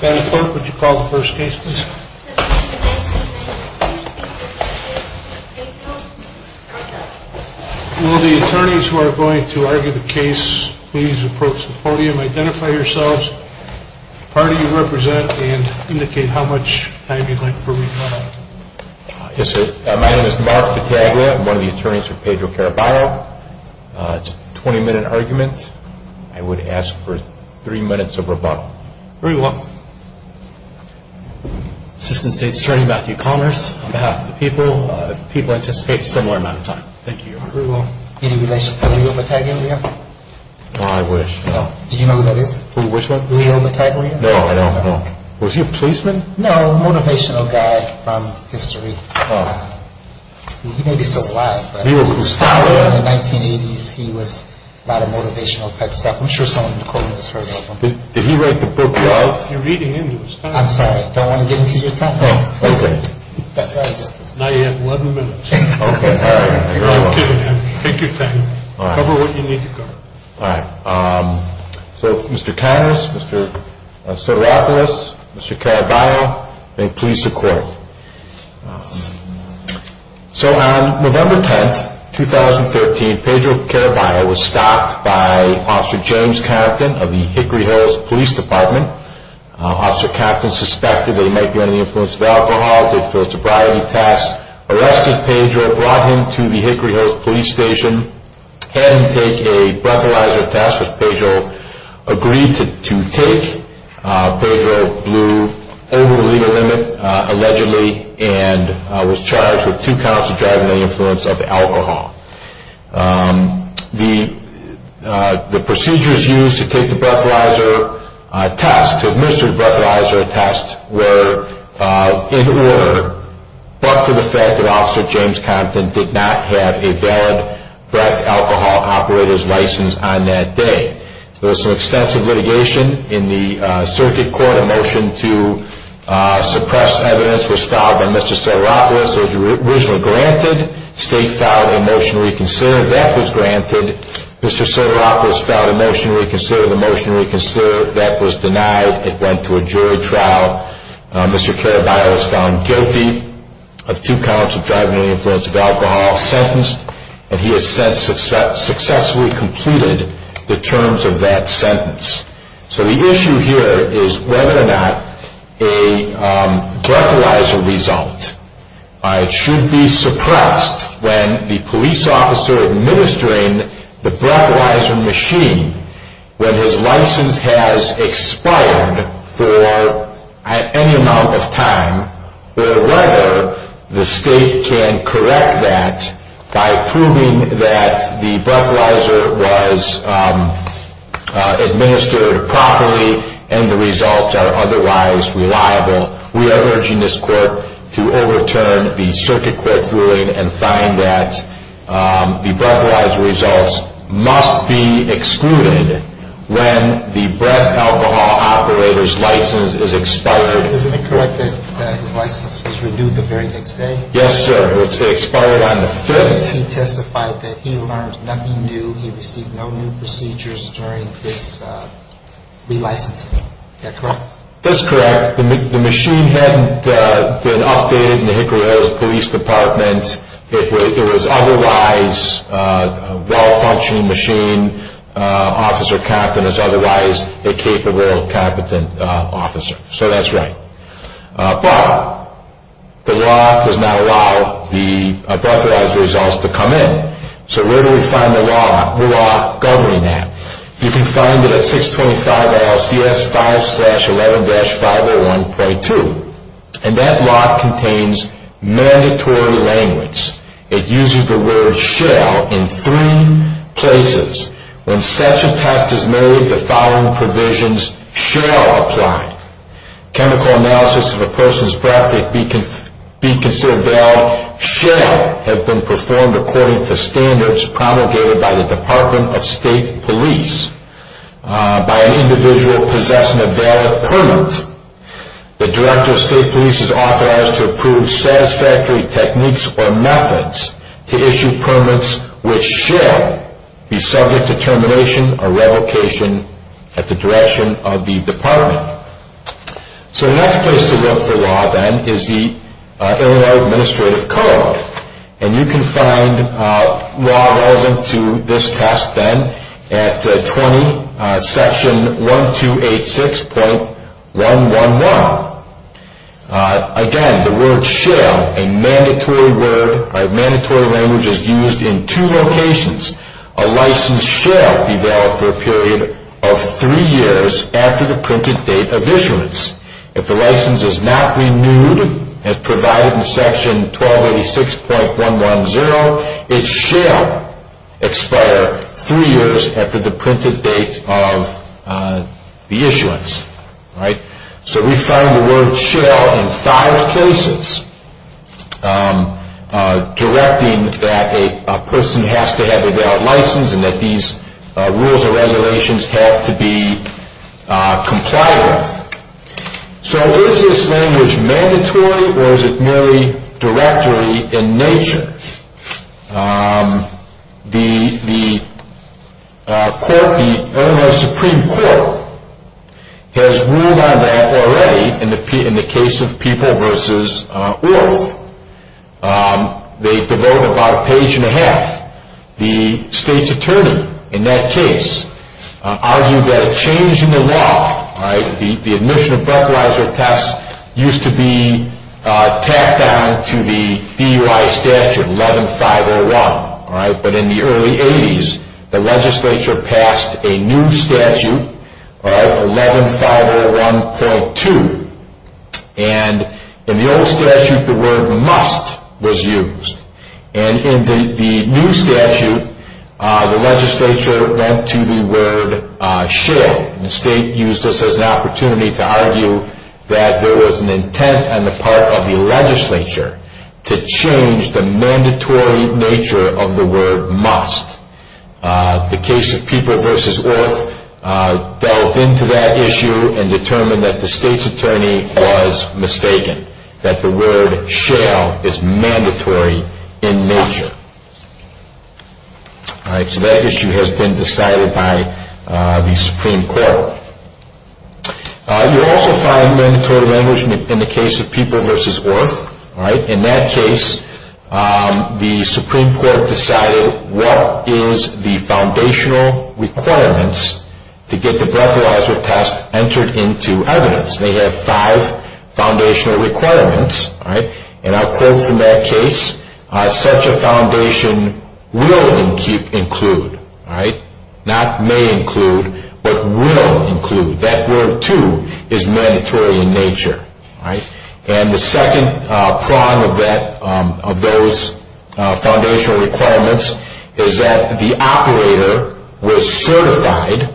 Would you call the first case please. Will the attorneys who are going to argue the case please approach the podium, identify yourselves, the party you represent and indicate how much time you would like to remain silent. Yes sir. My name is Mark Battaglia. I'm one of the attorneys for Pedro Caraballo. It's a 20 minute argument. I would ask for three minutes of rebuttal. Very well. Assistant State's Attorney Matthew Connors on behalf of the people. People anticipate a similar amount of time. Thank you. Very well. Any relation to Leo Battaglia? I wish. Do you know who that is? Who? Which one? Leo Battaglia? No, I don't know. Was he a policeman? No, a motivational guy from history. He may be still alive. Leo Battaglia? In the 1980's he was a lot of motivational type stuff. I'm sure someone in the courtroom has heard of him. Did he write the book Love? You're reading into his time. I'm sorry. I don't want to get into your time. Oh, okay. That's all. Now you have 11 minutes. Okay. You're all kidding me. Take your time. Cover what you need to cover. All right. So Mr. Connors, Mr. Sotiropoulos, Mr. Caraballo, and please support. So on November 10th, 2013, Pedro Caraballo was stopped by Officer James Captain of the Hickory Hills Police Department. Officer Captain suspected that he might be under the influence of alcohol. Arrested Pedro, brought him to the Hickory Hills Police Station, had him take a breathalyzer test. Pedro agreed to take. Pedro blew over the legal limit, allegedly, and was charged with two counts of driving under the influence of alcohol. The procedures used to take the breathalyzer test, to administer the breathalyzer test, were in order, but for the fact that Officer James Captain did not have a valid breath alcohol operator's license on that day. There was some extensive litigation in the circuit court. A motion to suppress evidence was filed by Mr. Sotiropoulos. Sotiropoulos was originally granted. State filed a motion to reconsider. That was granted. Mr. Sotiropoulos filed a motion to reconsider. The motion to reconsider, that was denied. It went to a jury trial. Mr. Caraballo was found guilty of two counts of driving under the influence of alcohol. Sentenced, and he has since successfully completed the terms of that sentence. So the issue here is whether or not a breathalyzer result should be suppressed when the police officer administering the breathalyzer machine, when his license has expired for any amount of time, or whether the state can correct that by proving that the breathalyzer was administered properly and the results are otherwise reliable. We are urging this court to overturn the circuit court's ruling and find that the breathalyzer results must be excluded when the breath alcohol operator's license is expired. Is it correct that his license was renewed the very next day? Yes, sir. It was expired on the 5th. He testified that he learned nothing new. He received no new procedures during his relicensing. Is that correct? That's correct. The machine hadn't been updated in the Hickory Hills Police Department. It was otherwise a well-functioning machine, officer competence, otherwise a capable, competent officer. So that's right. But the law does not allow the breathalyzer results to come in. So where do we find the law governing that? You can find it at 625 LCS 5-11-501.2. And that law contains mandatory language. It uses the word shall in three places. When such a test is made, the following provisions shall apply. Chemical analysis of a person's breath that be considered valid shall have been performed according to standards promulgated by the Department of State Police. By an individual possessing a valid permit, the Director of State Police is authorized to approve satisfactory techniques or methods to issue permits which shall be subject to termination or revocation at the direction of the Department. So the next place to look for law then is the Illinois Administrative Code. And you can find law relevant to this test then at 20 Section 1286.111. Again, the word shall, a mandatory word, a mandatory language is used in two locations. A license shall be valid for a period of three years after the printed date of issuance. If the license is not renewed as provided in Section 1286.110, it shall expire three years after the printed date of the issuance. So we find the word shall in five places directing that a person has to have a valid license and that these rules and regulations have to be complied with. So is this language mandatory or is it merely directory in nature? The Illinois Supreme Court has ruled on that already in the case of People v. Woolf. They devote about a page and a half. The state's attorney in that case argued that a change in the law, the admission of breathalyzer tests, used to be tacked on to the DUI statute 11501. But in the early 80s, the legislature passed a new statute, 11501.2. In the old statute, the word must was used. In the new statute, the legislature went to the word shall. The state used this as an opportunity to argue that there was an intent on the part of the legislature to change the mandatory nature of the word must. The case of People v. Woolf delved into that issue and determined that the state's attorney was mistaken, that the word shall is mandatory in nature. So that issue has been decided by the Supreme Court. You also find mandatory language in the case of People v. Woolf. In that case, the Supreme Court decided what is the foundational requirements to get the breathalyzer test entered into evidence. They have five foundational requirements. And I'll quote from that case, such a foundation will include, not may include, but will include. That word, too, is mandatory in nature. And the second prong of those foundational requirements is that the operator was certified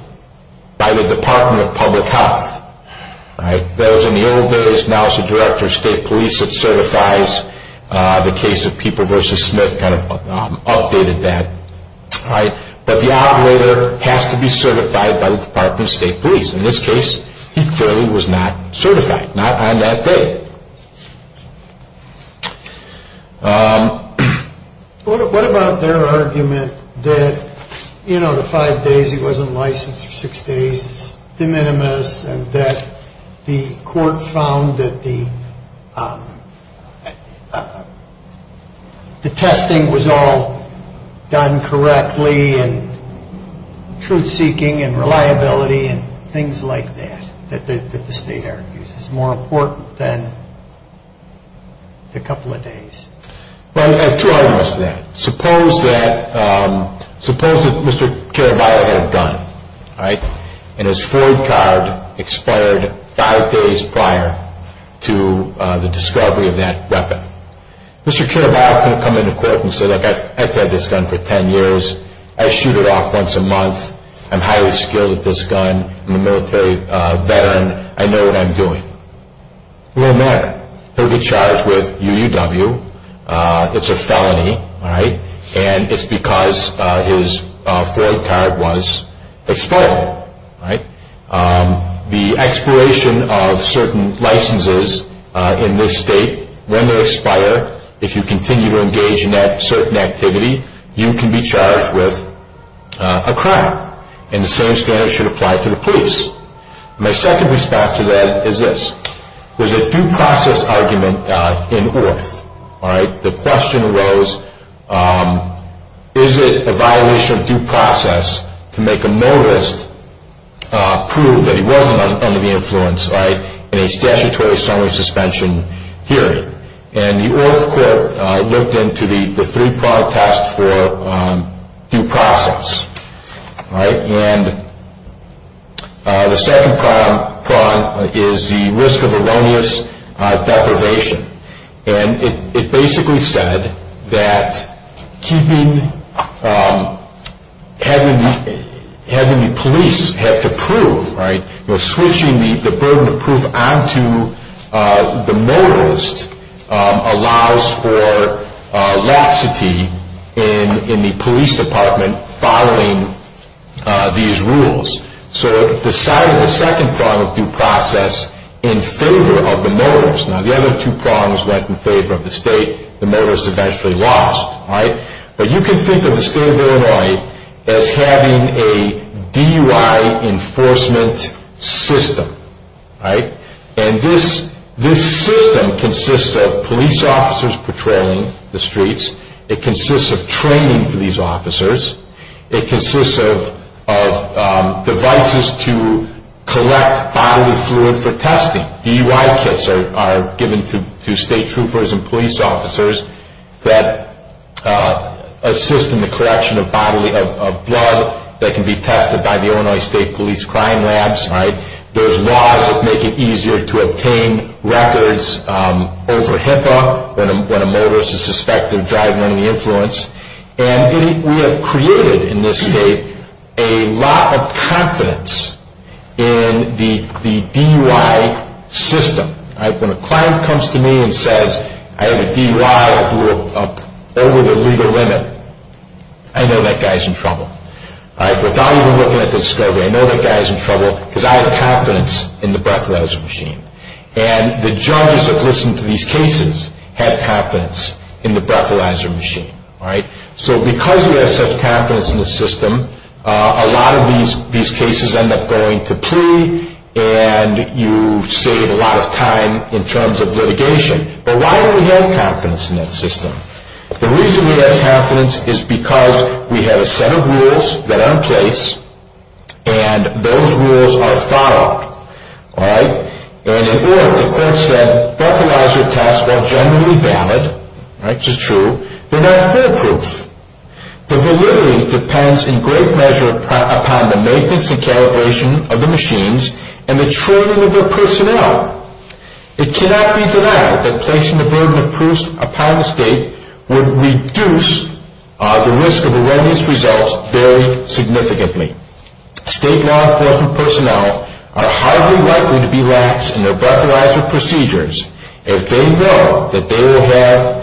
by the Department of Public Health. That was in the old days. Now it's the Director of State Police that certifies the case of People v. Smith updated that. But the operator has to be certified by the Department of State Police. In this case, he clearly was not certified, not on that day. What about their argument that, you know, the five days he wasn't licensed for six days is de minimis, and that the court found that the testing was all done correctly and truth-seeking and reliability and things like that, that the state argues is more important than the couple of days? Well, there's two arguments to that. Suppose that Mr. Caraballo had a gun, and his Ford card expired five days prior to the discovery of that weapon. Mr. Caraballo could have come into court and said, look, I've had this gun for ten years. I shoot it off once a month. I'm highly skilled at this gun. I'm a military veteran. I know what I'm doing. It won't matter. He'll be charged with UUW. It's a felony, and it's because his Ford card was expired. The expiration of certain licenses in this state, when they expire, if you continue to engage in that certain activity, you can be charged with a crime, and the same standard should apply to the police. My second response to that is this. There's a due process argument in Orth. The question arose, is it a violation of due process to make a notice, prove that he wasn't under the influence, in a statutory summary suspension hearing? And the Orth court looked into the three-prong test for due process. And the second prong is the risk of erroneous deprivation. And it basically said that having the police have to prove, switching the burden of proof onto the motorist allows for laxity in the police department following these rules. So it decided the second prong of due process in favor of the motorist. Now, the other two prongs went in favor of the state. The motorist eventually lost. But you can think of the state of Illinois as having a DUI enforcement system. And this system consists of police officers patrolling the streets. It consists of training for these officers. It consists of devices to collect bodily fluid for testing. DUI kits are given to state troopers and police officers that assist in the collection of blood that can be tested by the Illinois State Police Crime Labs. There's laws that make it easier to obtain records over HIPAA when a motorist is suspected of driving under the influence. And we have created in this state a lot of confidence in the DUI system. When a client comes to me and says, I have a DUI over the legal limit, I know that guy's in trouble. Without even looking at the discovery, I know that guy's in trouble because I have confidence in the breathalyzer machine. And the judges that listen to these cases have confidence in the breathalyzer machine. So because we have such confidence in the system, a lot of these cases end up going to plea and you save a lot of time in terms of litigation. But why do we have confidence in that system? The reason we have confidence is because we have a set of rules that are in place and those rules are followed. The court said breathalyzer tests were generally valid, which is true, but not foolproof. The validity depends in great measure upon the maintenance and calibration of the machines and the training of their personnel. It cannot be denied that placing the burden of proofs upon the state would reduce the risk of erroneous results very significantly. State law enforcement personnel are highly likely to be lax in their breathalyzer procedures if they know that they will have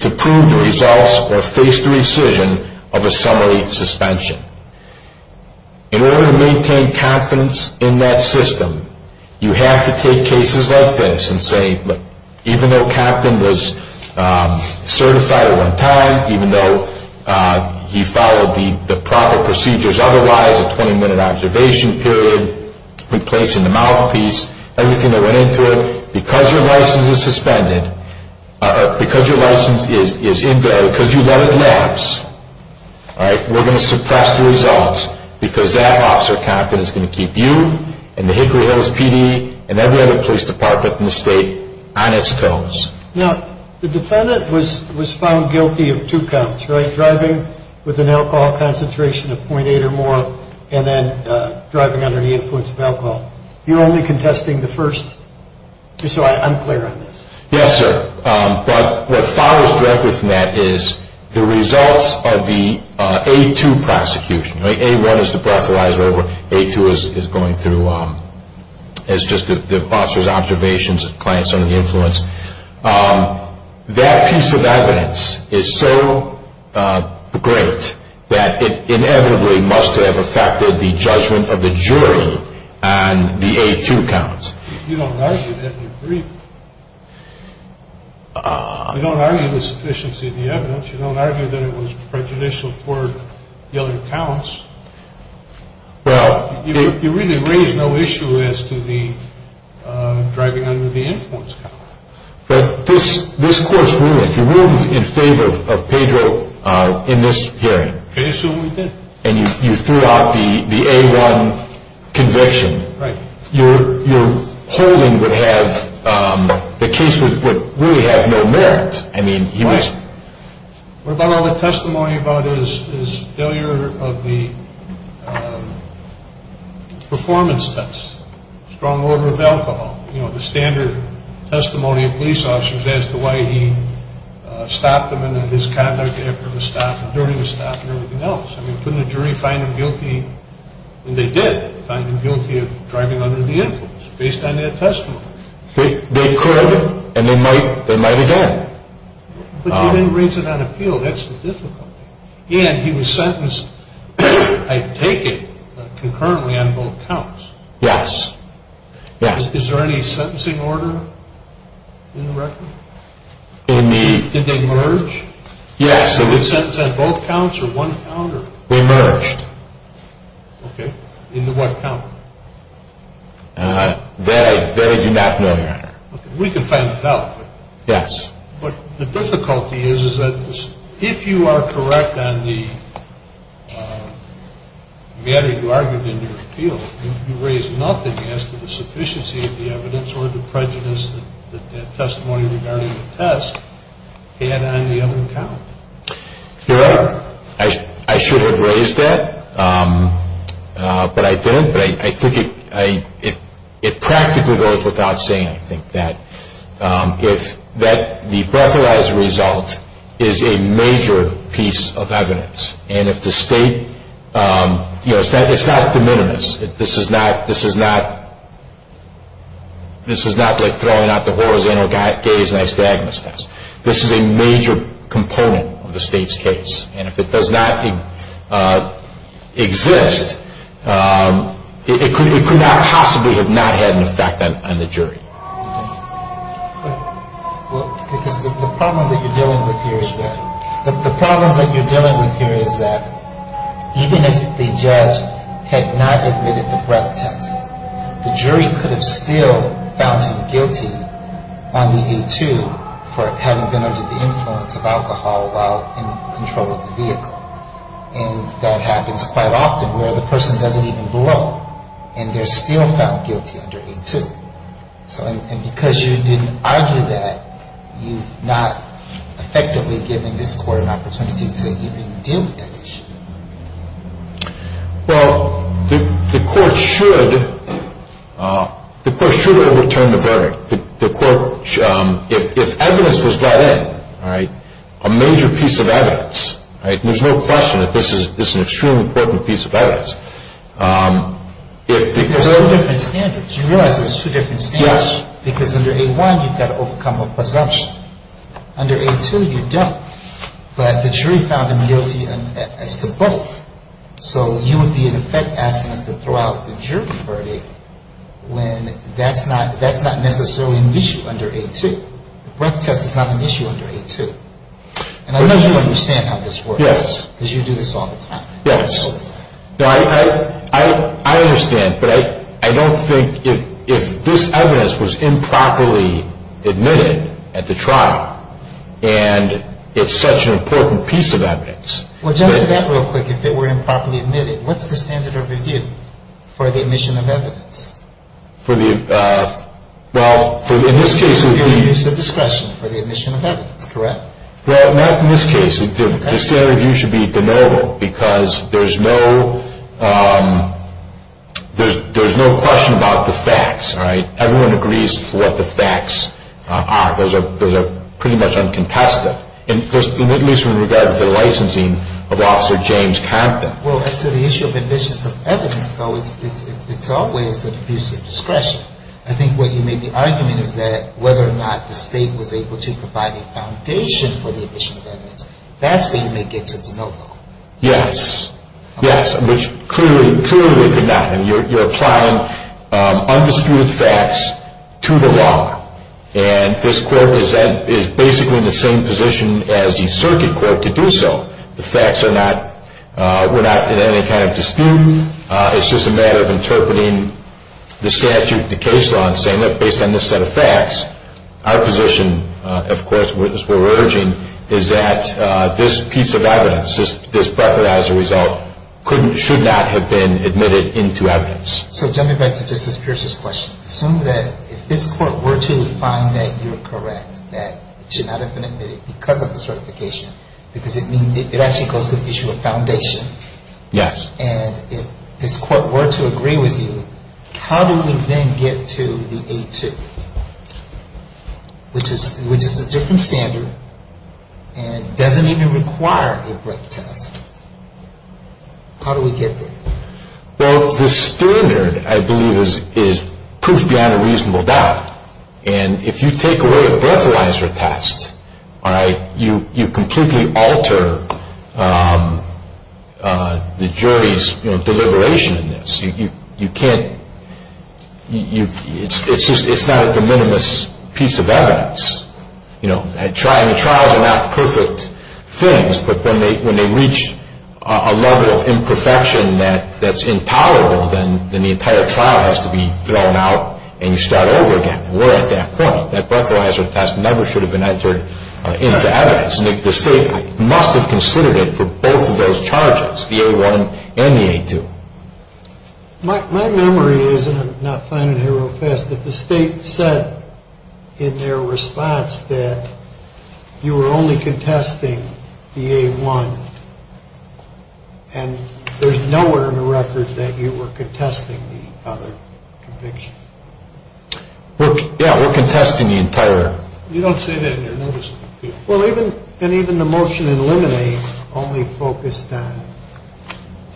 to prove the results or face the rescission of a summary suspension. In order to maintain confidence in that system, you have to take cases like this and say, look, even though Captain was certified at one time, even though he followed the proper procedures, otherwise a 20-minute observation period, replacing the mouthpiece, everything that went into it, because your license is suspended, because you let it lapse, we're going to suppress the results because that officer confidence is going to keep you and the Hickory Hills PD and every other police department in the state on its toes. Now, the defendant was found guilty of two counts, right? Driving with an alcohol concentration of .8 or more and then driving under the influence of alcohol. You're only contesting the first, so I'm clear on this. Yes, sir, but what follows directly from that is the results of the A-2 prosecution. A-1 is the breathalyzer, A-2 is going through, it's just the officer's observations, the client's under the influence. That piece of evidence is so great that it inevitably must have affected the judgment of the jury on the A-2 counts. You don't argue that in your brief. You don't argue the sufficiency of the evidence. You don't argue that it was prejudicial toward the other counts. You really raise no issue as to the driving under the influence count. But this court's ruling, if you ruled in favor of Pedro in this hearing and you threw out the A-1 conviction, your holding would have, the case would really have no merit. Right. What about all the testimony about his failure of the performance test, strong odor of alcohol? You know, the standard testimony of police officers as to why he stopped him in his conduct after the stop, during the stop, and everything else. Couldn't the jury find him guilty? And they did find him guilty of driving under the influence based on that testimony. They could and they might again. But you didn't raise it on appeal. That's the difficulty. And he was sentenced, I take it, concurrently on both counts. Yes. Is there any sentencing order in the record? Did they merge? Yes. So he was sentenced on both counts or one count? They merged. Okay. Into what count? That I do not know, Your Honor. We can find it out. Yes. But the difficulty is that if you are correct on the matter you argued in your appeal, you raised nothing as to the sufficiency of the evidence or the prejudice that that testimony regarding the test had on the other count. Your Honor, I should have raised that, but I didn't. But I think it practically goes without saying, I think, that the breathalyzer result is a major piece of evidence. And if the State, you know, it's not de minimis. This is not like throwing out the horizontal gaze and I stagger the steps. This is a major component of the State's case. And if it does not exist, it could not possibly have not had an effect on the jury. Because the problem that you're dealing with here is that even if the judge had not admitted the breath test, the jury could have still found him guilty on the A2 for having been under the influence of alcohol while in control of the vehicle. And that happens quite often where the person doesn't even blow and they're still found guilty under A2. And because you didn't argue that, you've not effectively given this Court an opportunity to even deal with that issue. Well, the Court should overturn the verdict. If evidence was got in, a major piece of evidence, there's no question that this is an extremely important piece of evidence. There's two different standards. You realize there's two different standards? Yes. Because under A1, you've got to overcome a presumption. Under A2, you don't. But the jury found him guilty as to both. So you would be in effect asking us to throw out the jury verdict when that's not necessarily an issue under A2. The breath test is not an issue under A2. And I know you understand how this works. Yes. Because you do this all the time. Yes. I understand, but I don't think if this evidence was improperly admitted at the trial and it's such an important piece of evidence. Well, jump to that real quick. If it were improperly admitted, what's the standard of review for the admission of evidence? Well, in this case, it would be... It would be a review of discretion for the admission of evidence, correct? Well, not in this case. The standard of review should be de novo because there's no question about the facts, right? Everyone agrees what the facts are. Those are pretty much uncontested, at least in regard to the licensing of Officer James Compton. Well, as to the issue of admission of evidence, though, it's always an abuse of discretion. I think what you may be arguing is that whether or not the state was able to provide a foundation for the admission of evidence, that's where you may get to de novo. Yes. Yes, which clearly, clearly could not. And you're applying undisputed facts to the law. And this court is basically in the same position as the circuit court to do so. The facts are not... We're not in any kind of dispute. It's just a matter of interpreting the statute, the case law, and saying, look, based on this set of facts, our position, of course, as we're urging, is that this piece of evidence, this preferential result, should not have been admitted into evidence. So jumping back to Justice Pierce's question, assume that if this court were to find that you're correct, that it should not have been admitted because of the certification, because it actually goes to the issue of foundation. Yes. And if this court were to agree with you, how do we then get to the A2, which is a different standard and doesn't even require a break test? How do we get there? Well, the standard, I believe, is proof beyond a reasonable doubt. And if you take away a breathalyzer test, you completely alter the jury's deliberation in this. You can't... It's not a de minimis piece of evidence. And the trials are not perfect things, but when they reach a level of imperfection that's impowerable, then the entire trial has to be thrown out and you start over again. We're at that point. That breathalyzer test never should have been entered into evidence. The state must have considered it for both of those charges, the A1 and the A2. My memory is, and I'm not finding it here real fast, that the state said in their response that you were only contesting the A1. And there's nowhere in the record that you were contesting the other conviction. Yeah, we're contesting the entire. You don't say that in your notice. Well, even the motion to eliminate only focused on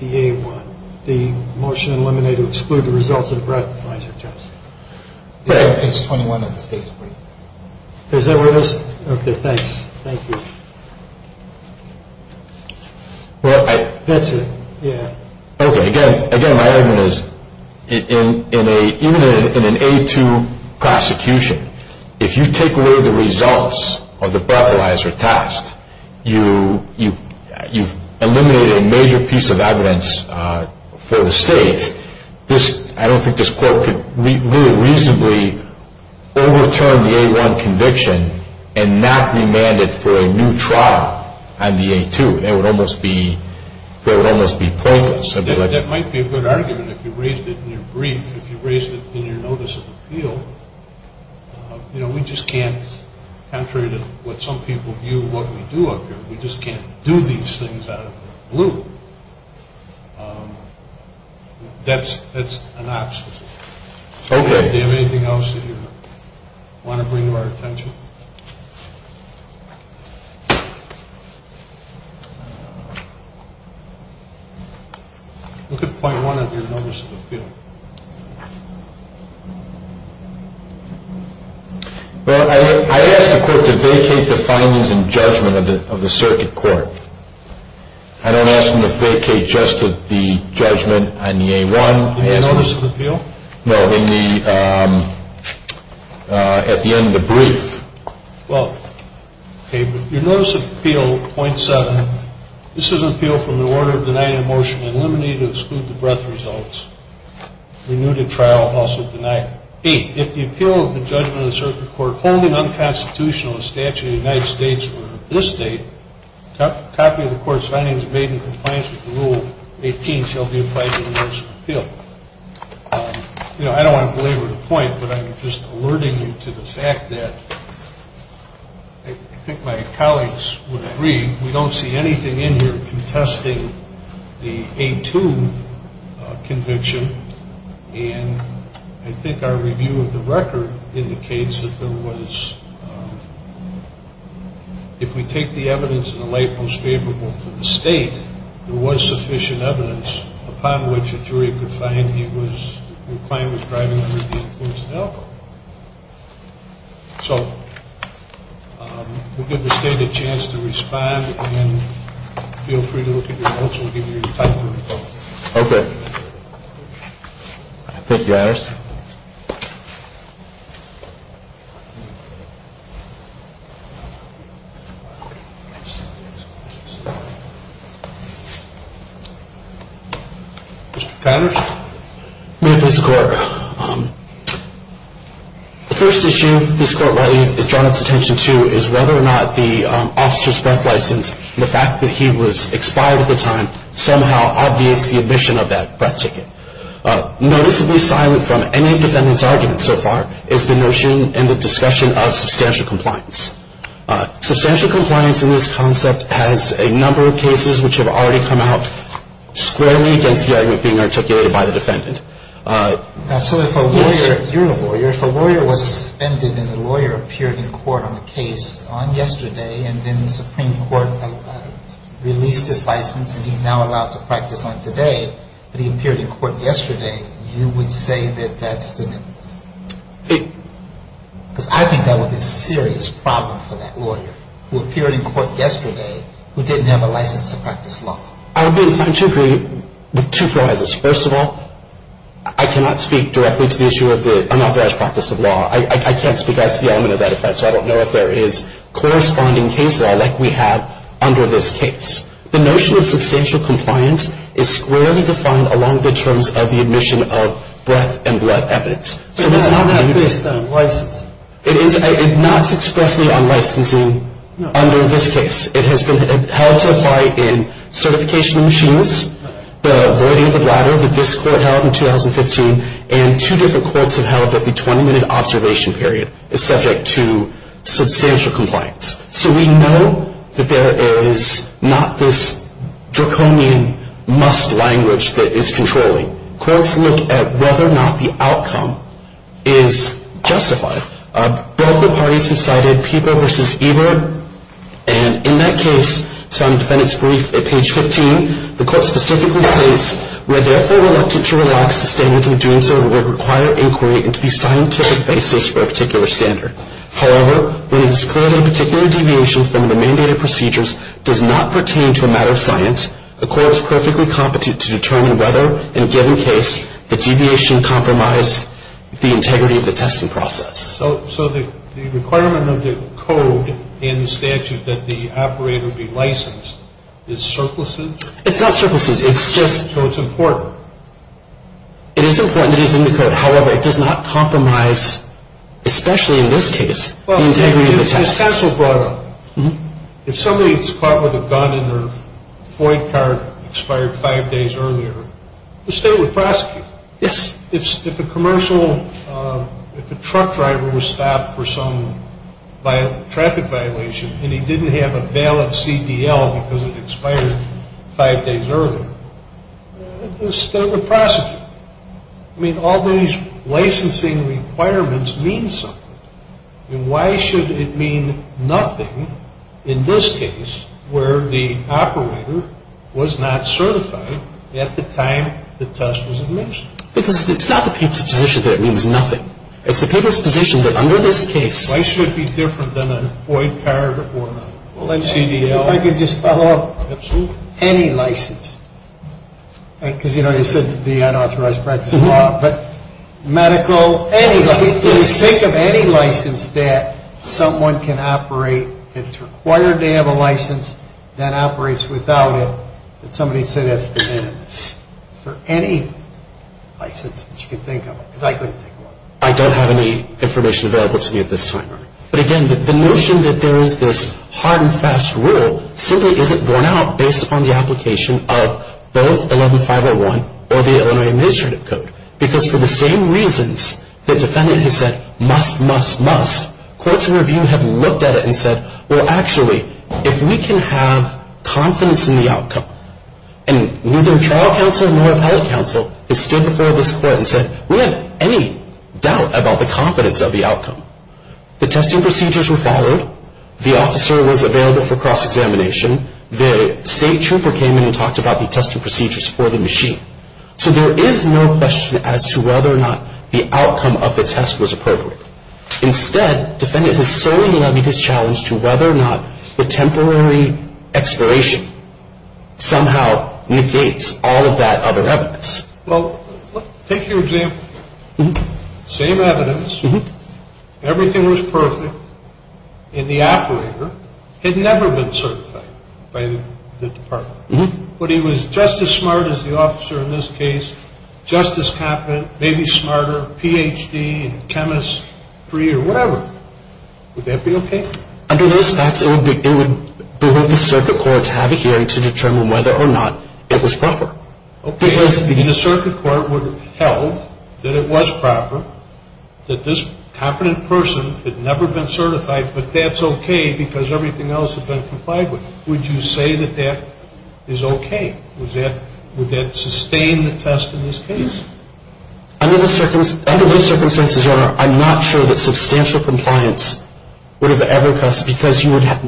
the A1. The motion to eliminate to exclude the results of the breathalyzer test. It's on page 21 of the state's report. Is that where it is? Okay, thanks. Thank you. That's it, yeah. Okay, again, my argument is even in an A2 prosecution, if you take away the results of the breathalyzer test, you've eliminated a major piece of evidence for the state. I don't think this court could really reasonably overturn the A1 conviction and not remand it for a new trial on the A2. It would almost be pointless. That might be a good argument if you raised it in your brief, if you raised it in your notice of appeal. We just can't, contrary to what some people view what we do up here, we just can't do these things out of the blue. That's an obstacle. Okay. Do you have anything else that you want to bring to our attention? Look at point one of your notice of appeal. Well, I ask the court to vacate the findings and judgment of the circuit court. I don't ask them to vacate just the judgment on the A1. In your notice of appeal? No, in the, at the end of the brief. Well, okay, but your notice of appeal, point seven, this is an appeal from the order of denying a motion to eliminate or exclude the breath results. Renewed in trial, also denied. Eight, if the appeal of the judgment of the circuit court, if the home and unconstitutional statute of the United States were of this date, copy of the court's findings made in compliance with Rule 18 shall be applied to the notice of appeal. You know, I don't want to belabor the point, but I'm just alerting you to the fact that I think my colleagues would agree, we don't see anything in here contesting the A2 conviction, and I think our review of the record indicates that there was, if we take the evidence in the light most favorable to the state, there was sufficient evidence upon which a jury could find he was, the client was driving under the influence of alcohol. So we'll give the state a chance to respond, and feel free to look at your notes. Okay. Thank you, Iris. Mr. Connors? The first issue this court has drawn its attention to is whether or not the officer's breath license, the fact that he was expired at the time, somehow obviates the admission of that breath ticket. Noticeably silent from any defendant's argument so far is the notion and the discussion of substantial compliance. Substantial compliance in this concept has a number of cases which have already come out squarely against the argument being articulated by the defendant. So if a lawyer, if you're a lawyer, if a lawyer was suspended and the lawyer appeared in court on a case on yesterday, and then the Supreme Court released his license and he's now allowed to practice on today, but he appeared in court yesterday, you would say that that's denial? Because I think that would be a serious problem for that lawyer who appeared in court yesterday, who didn't have a license to practice law. I would be inclined to agree with two premises. First of all, I cannot speak directly to the issue of the unauthorized practice of law. I can't speak as to the element of that offense, so I don't know if there is corresponding case law like we have under this case. The notion of substantial compliance is squarely defined along the terms of the admission of breath and blood evidence. But that's not based on licensing. It's not expressly on licensing under this case. It has been held to apply in certification machines, the voiding of the bladder that this court held in 2015, and two different courts have held that the 20-minute observation period is subject to substantial compliance. So we know that there is not this draconian must language that is controlling. Courts look at whether or not the outcome is justified. Both the parties have cited Peeper v. Ebert, and in that case, it's found in the defendant's brief at page 15. The court specifically states, We are therefore reluctant to relax the standards of doing so that would require inquiry into the scientific basis for a particular standard. However, when it is clear that a particular deviation from the mandated procedures does not pertain to a matter of science, the court is perfectly competent to determine whether, in a given case, the deviation compromised the integrity of the testing process. So the requirement of the code and the statute that the operator be licensed is surplusage? It's not surplusage. It's just... So it's important. It is important. It is in the code. However, it does not compromise, especially in this case, the integrity of the test. If somebody is caught with a gun in their flight car, expired five days earlier, the state would prosecute. Yes. If a commercial, if a truck driver was stopped for some traffic violation, and he didn't have a valid CDL because it expired five days earlier, the state would prosecute. I mean, all these licensing requirements mean something. I mean, why should it mean nothing in this case where the operator was not certified at the time the test was administered? Because it's not the people's position that it means nothing. It's the people's position that under this case... Why should it be different than a void card or a CDL? If I could just follow up. Absolutely. Any license. Because, you know, you said the unauthorized practice law, but medical, any license. Please think of any license that someone can operate, that's required to have a license, that operates without it, that somebody said has been in it. Is there any license that you can think of? Because I couldn't think of one. I don't have any information available to me at this time. But again, the notion that there is this hard and fast rule simply isn't borne out based upon the application of both 11501 or the Illinois Administrative Code. Because for the same reasons that defendant has said, must, must, must, courts in review have looked at it and said, well, actually, if we can have confidence in the outcome, and neither trial counsel nor appellate counsel has stood before this court and said, we have any doubt about the confidence of the outcome. The testing procedures were followed. The officer was available for cross-examination. The state trooper came in and talked about the testing procedures for the machine. So there is no question as to whether or not the outcome of the test was appropriate. Instead, defendant was solely levied his challenge to whether or not the temporary expiration somehow negates all of that other evidence. Well, take your example. Same evidence. Everything was perfect. And the operator had never been certified by the department. But he was just as smart as the officer in this case, just as competent, maybe smarter, Ph.D., and chemist-free or whatever. Would that be okay? Under those facts, it would behoove the circuit court to have a hearing to determine whether or not it was proper. Okay. The circuit court would have held that it was proper, that this competent person had never been certified, but that's okay because everything else had been complied with. Would you say that that is okay? Would that sustain the test in this case? Under those circumstances, Your Honor, I'm not sure that substantial compliance would have ever cost because you would have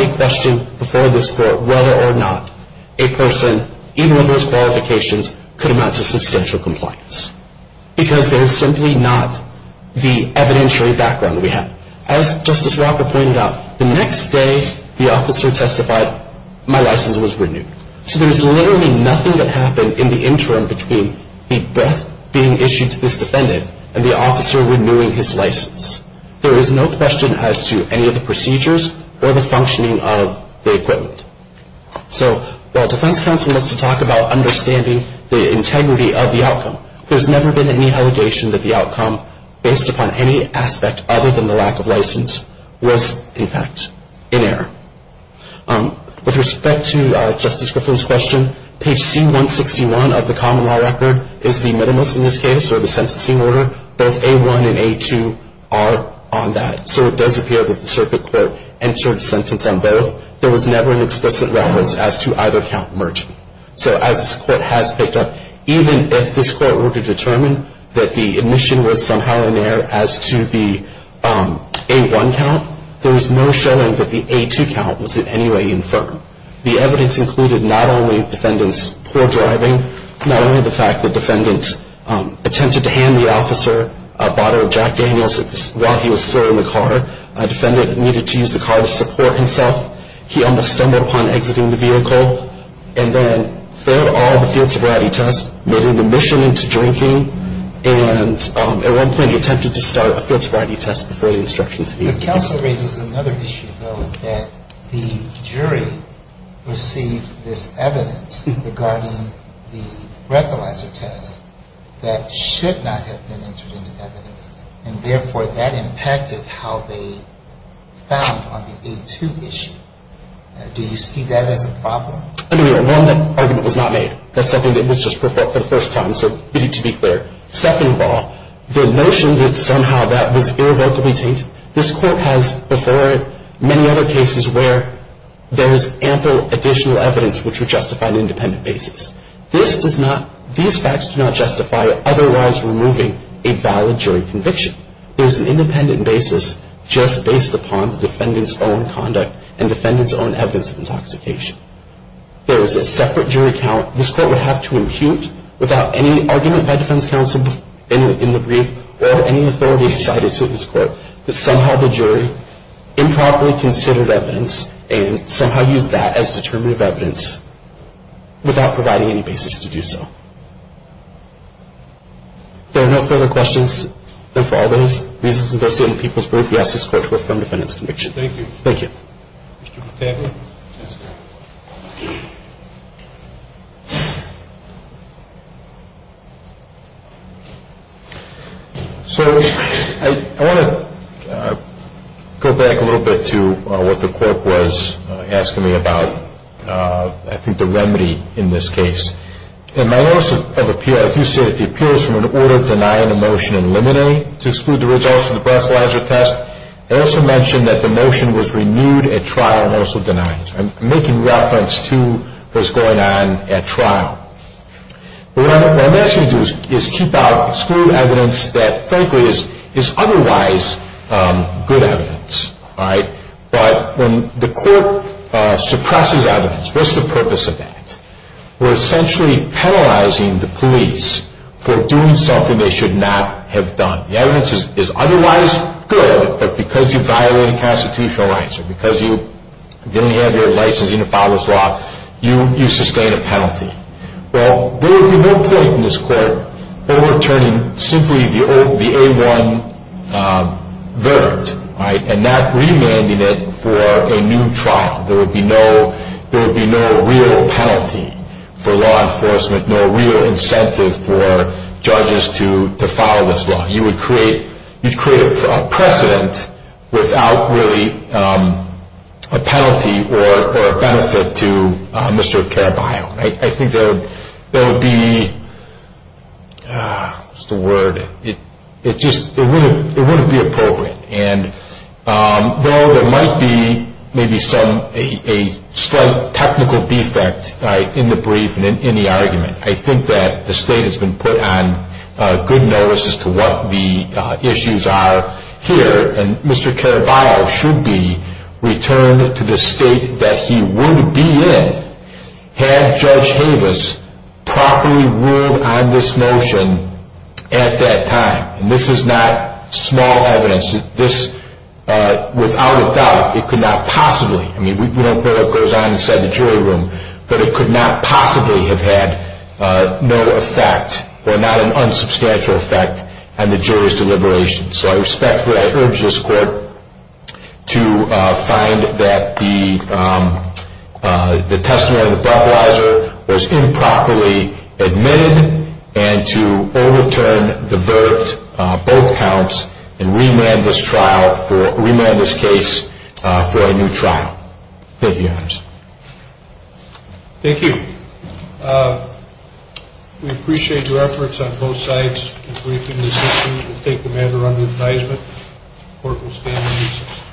a question before this court whether or not a person, even with those qualifications, could amount to substantial compliance because there is simply not the evidentiary background that we have. As Justice Walker pointed out, the next day the officer testified, my license was renewed. So there is literally nothing that happened in the interim between the breath being issued to this defendant and the officer renewing his license. There is no question as to any of the procedures or the functioning of the equipment. So while defense counsel wants to talk about understanding the integrity of the outcome, there has never been any allegation that the outcome, based upon any aspect other than the lack of license, was, in fact, in error. With respect to Justice Griffith's question, page C-161 of the common law record is the minimalist in this case or the sentencing order. Both A-1 and A-2 are on that. So it does appear that the circuit court entered a sentence on both. There was never an explicit reference as to either count merging. So as this court has picked up, even if this court were to determine that the admission was somehow in error as to the A-1 count, there is no showing that the A-2 count was in any way infirm. The evidence included not only the defendant's poor driving, not only the fact the defendant attempted to hand the officer a bottle of Jack Daniels while he was still in the car. The defendant needed to use the car to support himself. He almost stumbled upon exiting the vehicle and then failed all of the field sobriety tests, made an admission into drinking, and at one point he attempted to start a field sobriety test before the instructions had even been given. The counsel raises another issue, though, that the jury received this evidence regarding the breathalyzer test that should not have been entered into evidence, and therefore that impacted how they found on the A-2 issue. Do you see that as a problem? I mean, one, that argument was not made. That's something that was just for the first time, so to be clear. Second of all, the notion that somehow that was irrevocably taint, this court has before it many other cases where there is ample additional evidence which would justify an independent basis. These facts do not justify otherwise removing a valid jury conviction. There is an independent basis just based upon the defendant's own conduct and defendant's own evidence of intoxication. There is a separate jury count this court would have to impute without any argument by defense counsel in the brief or any authority cited to this court that somehow the jury improperly considered evidence and somehow used that as determinative evidence without providing any basis to do so. If there are no further questions, then for all those reasons and those stating the people's brief, we ask this court to affirm the defendant's conviction. Thank you. Thank you. Mr. Battaglia? Yes, sir. So I want to go back a little bit to what the court was asking me about, I think the remedy in this case. In my notice of appeal, I do say that the appeal is from an order to deny a motion in limine to exclude the results of the breathalyzer test. I also mention that the motion was renewed at trial and also denied. I'm making reference to what's going on at trial. What I'm asking you to do is keep out, exclude evidence that frankly is otherwise good evidence. But when the court suppresses evidence, what's the purpose of that? We're essentially penalizing the police for doing something they should not have done. The evidence is otherwise good, but because you violated constitutional rights or because you didn't have your license, you didn't follow this law, you sustain a penalty. Well, there would be no point in this court overturning simply the old, the A1 verdict, right, and not remanding it for a new trial. There would be no real penalty for law enforcement, no real incentive for judges to follow this law. You would create a precedent without really a penalty or a benefit to Mr. Caraballo. I think there would be, what's the word, it just wouldn't be appropriate. And though there might be maybe some, a slight technical defect in the brief and in the argument, I think that the state has been put on good notice as to what the issues are here, and Mr. Caraballo should be returned to the state that he would be in had Judge Havas properly ruled on this motion at that time. And this is not small evidence. This, without a doubt, it could not possibly, I mean, we don't know what goes on inside the jury room, but it could not possibly have had no effect or not an unsubstantial effect on the jury's deliberation. So I respectfully urge this court to find that the testimony of the breathalyzer was improperly admitted and to overturn the verdict, both counts, and remand this trial for, remand this case for a new trial. Thank you, Your Honor. Thank you. We appreciate your efforts on both sides in briefing this issue. We'll take the matter under advisement. The court will stand in recess.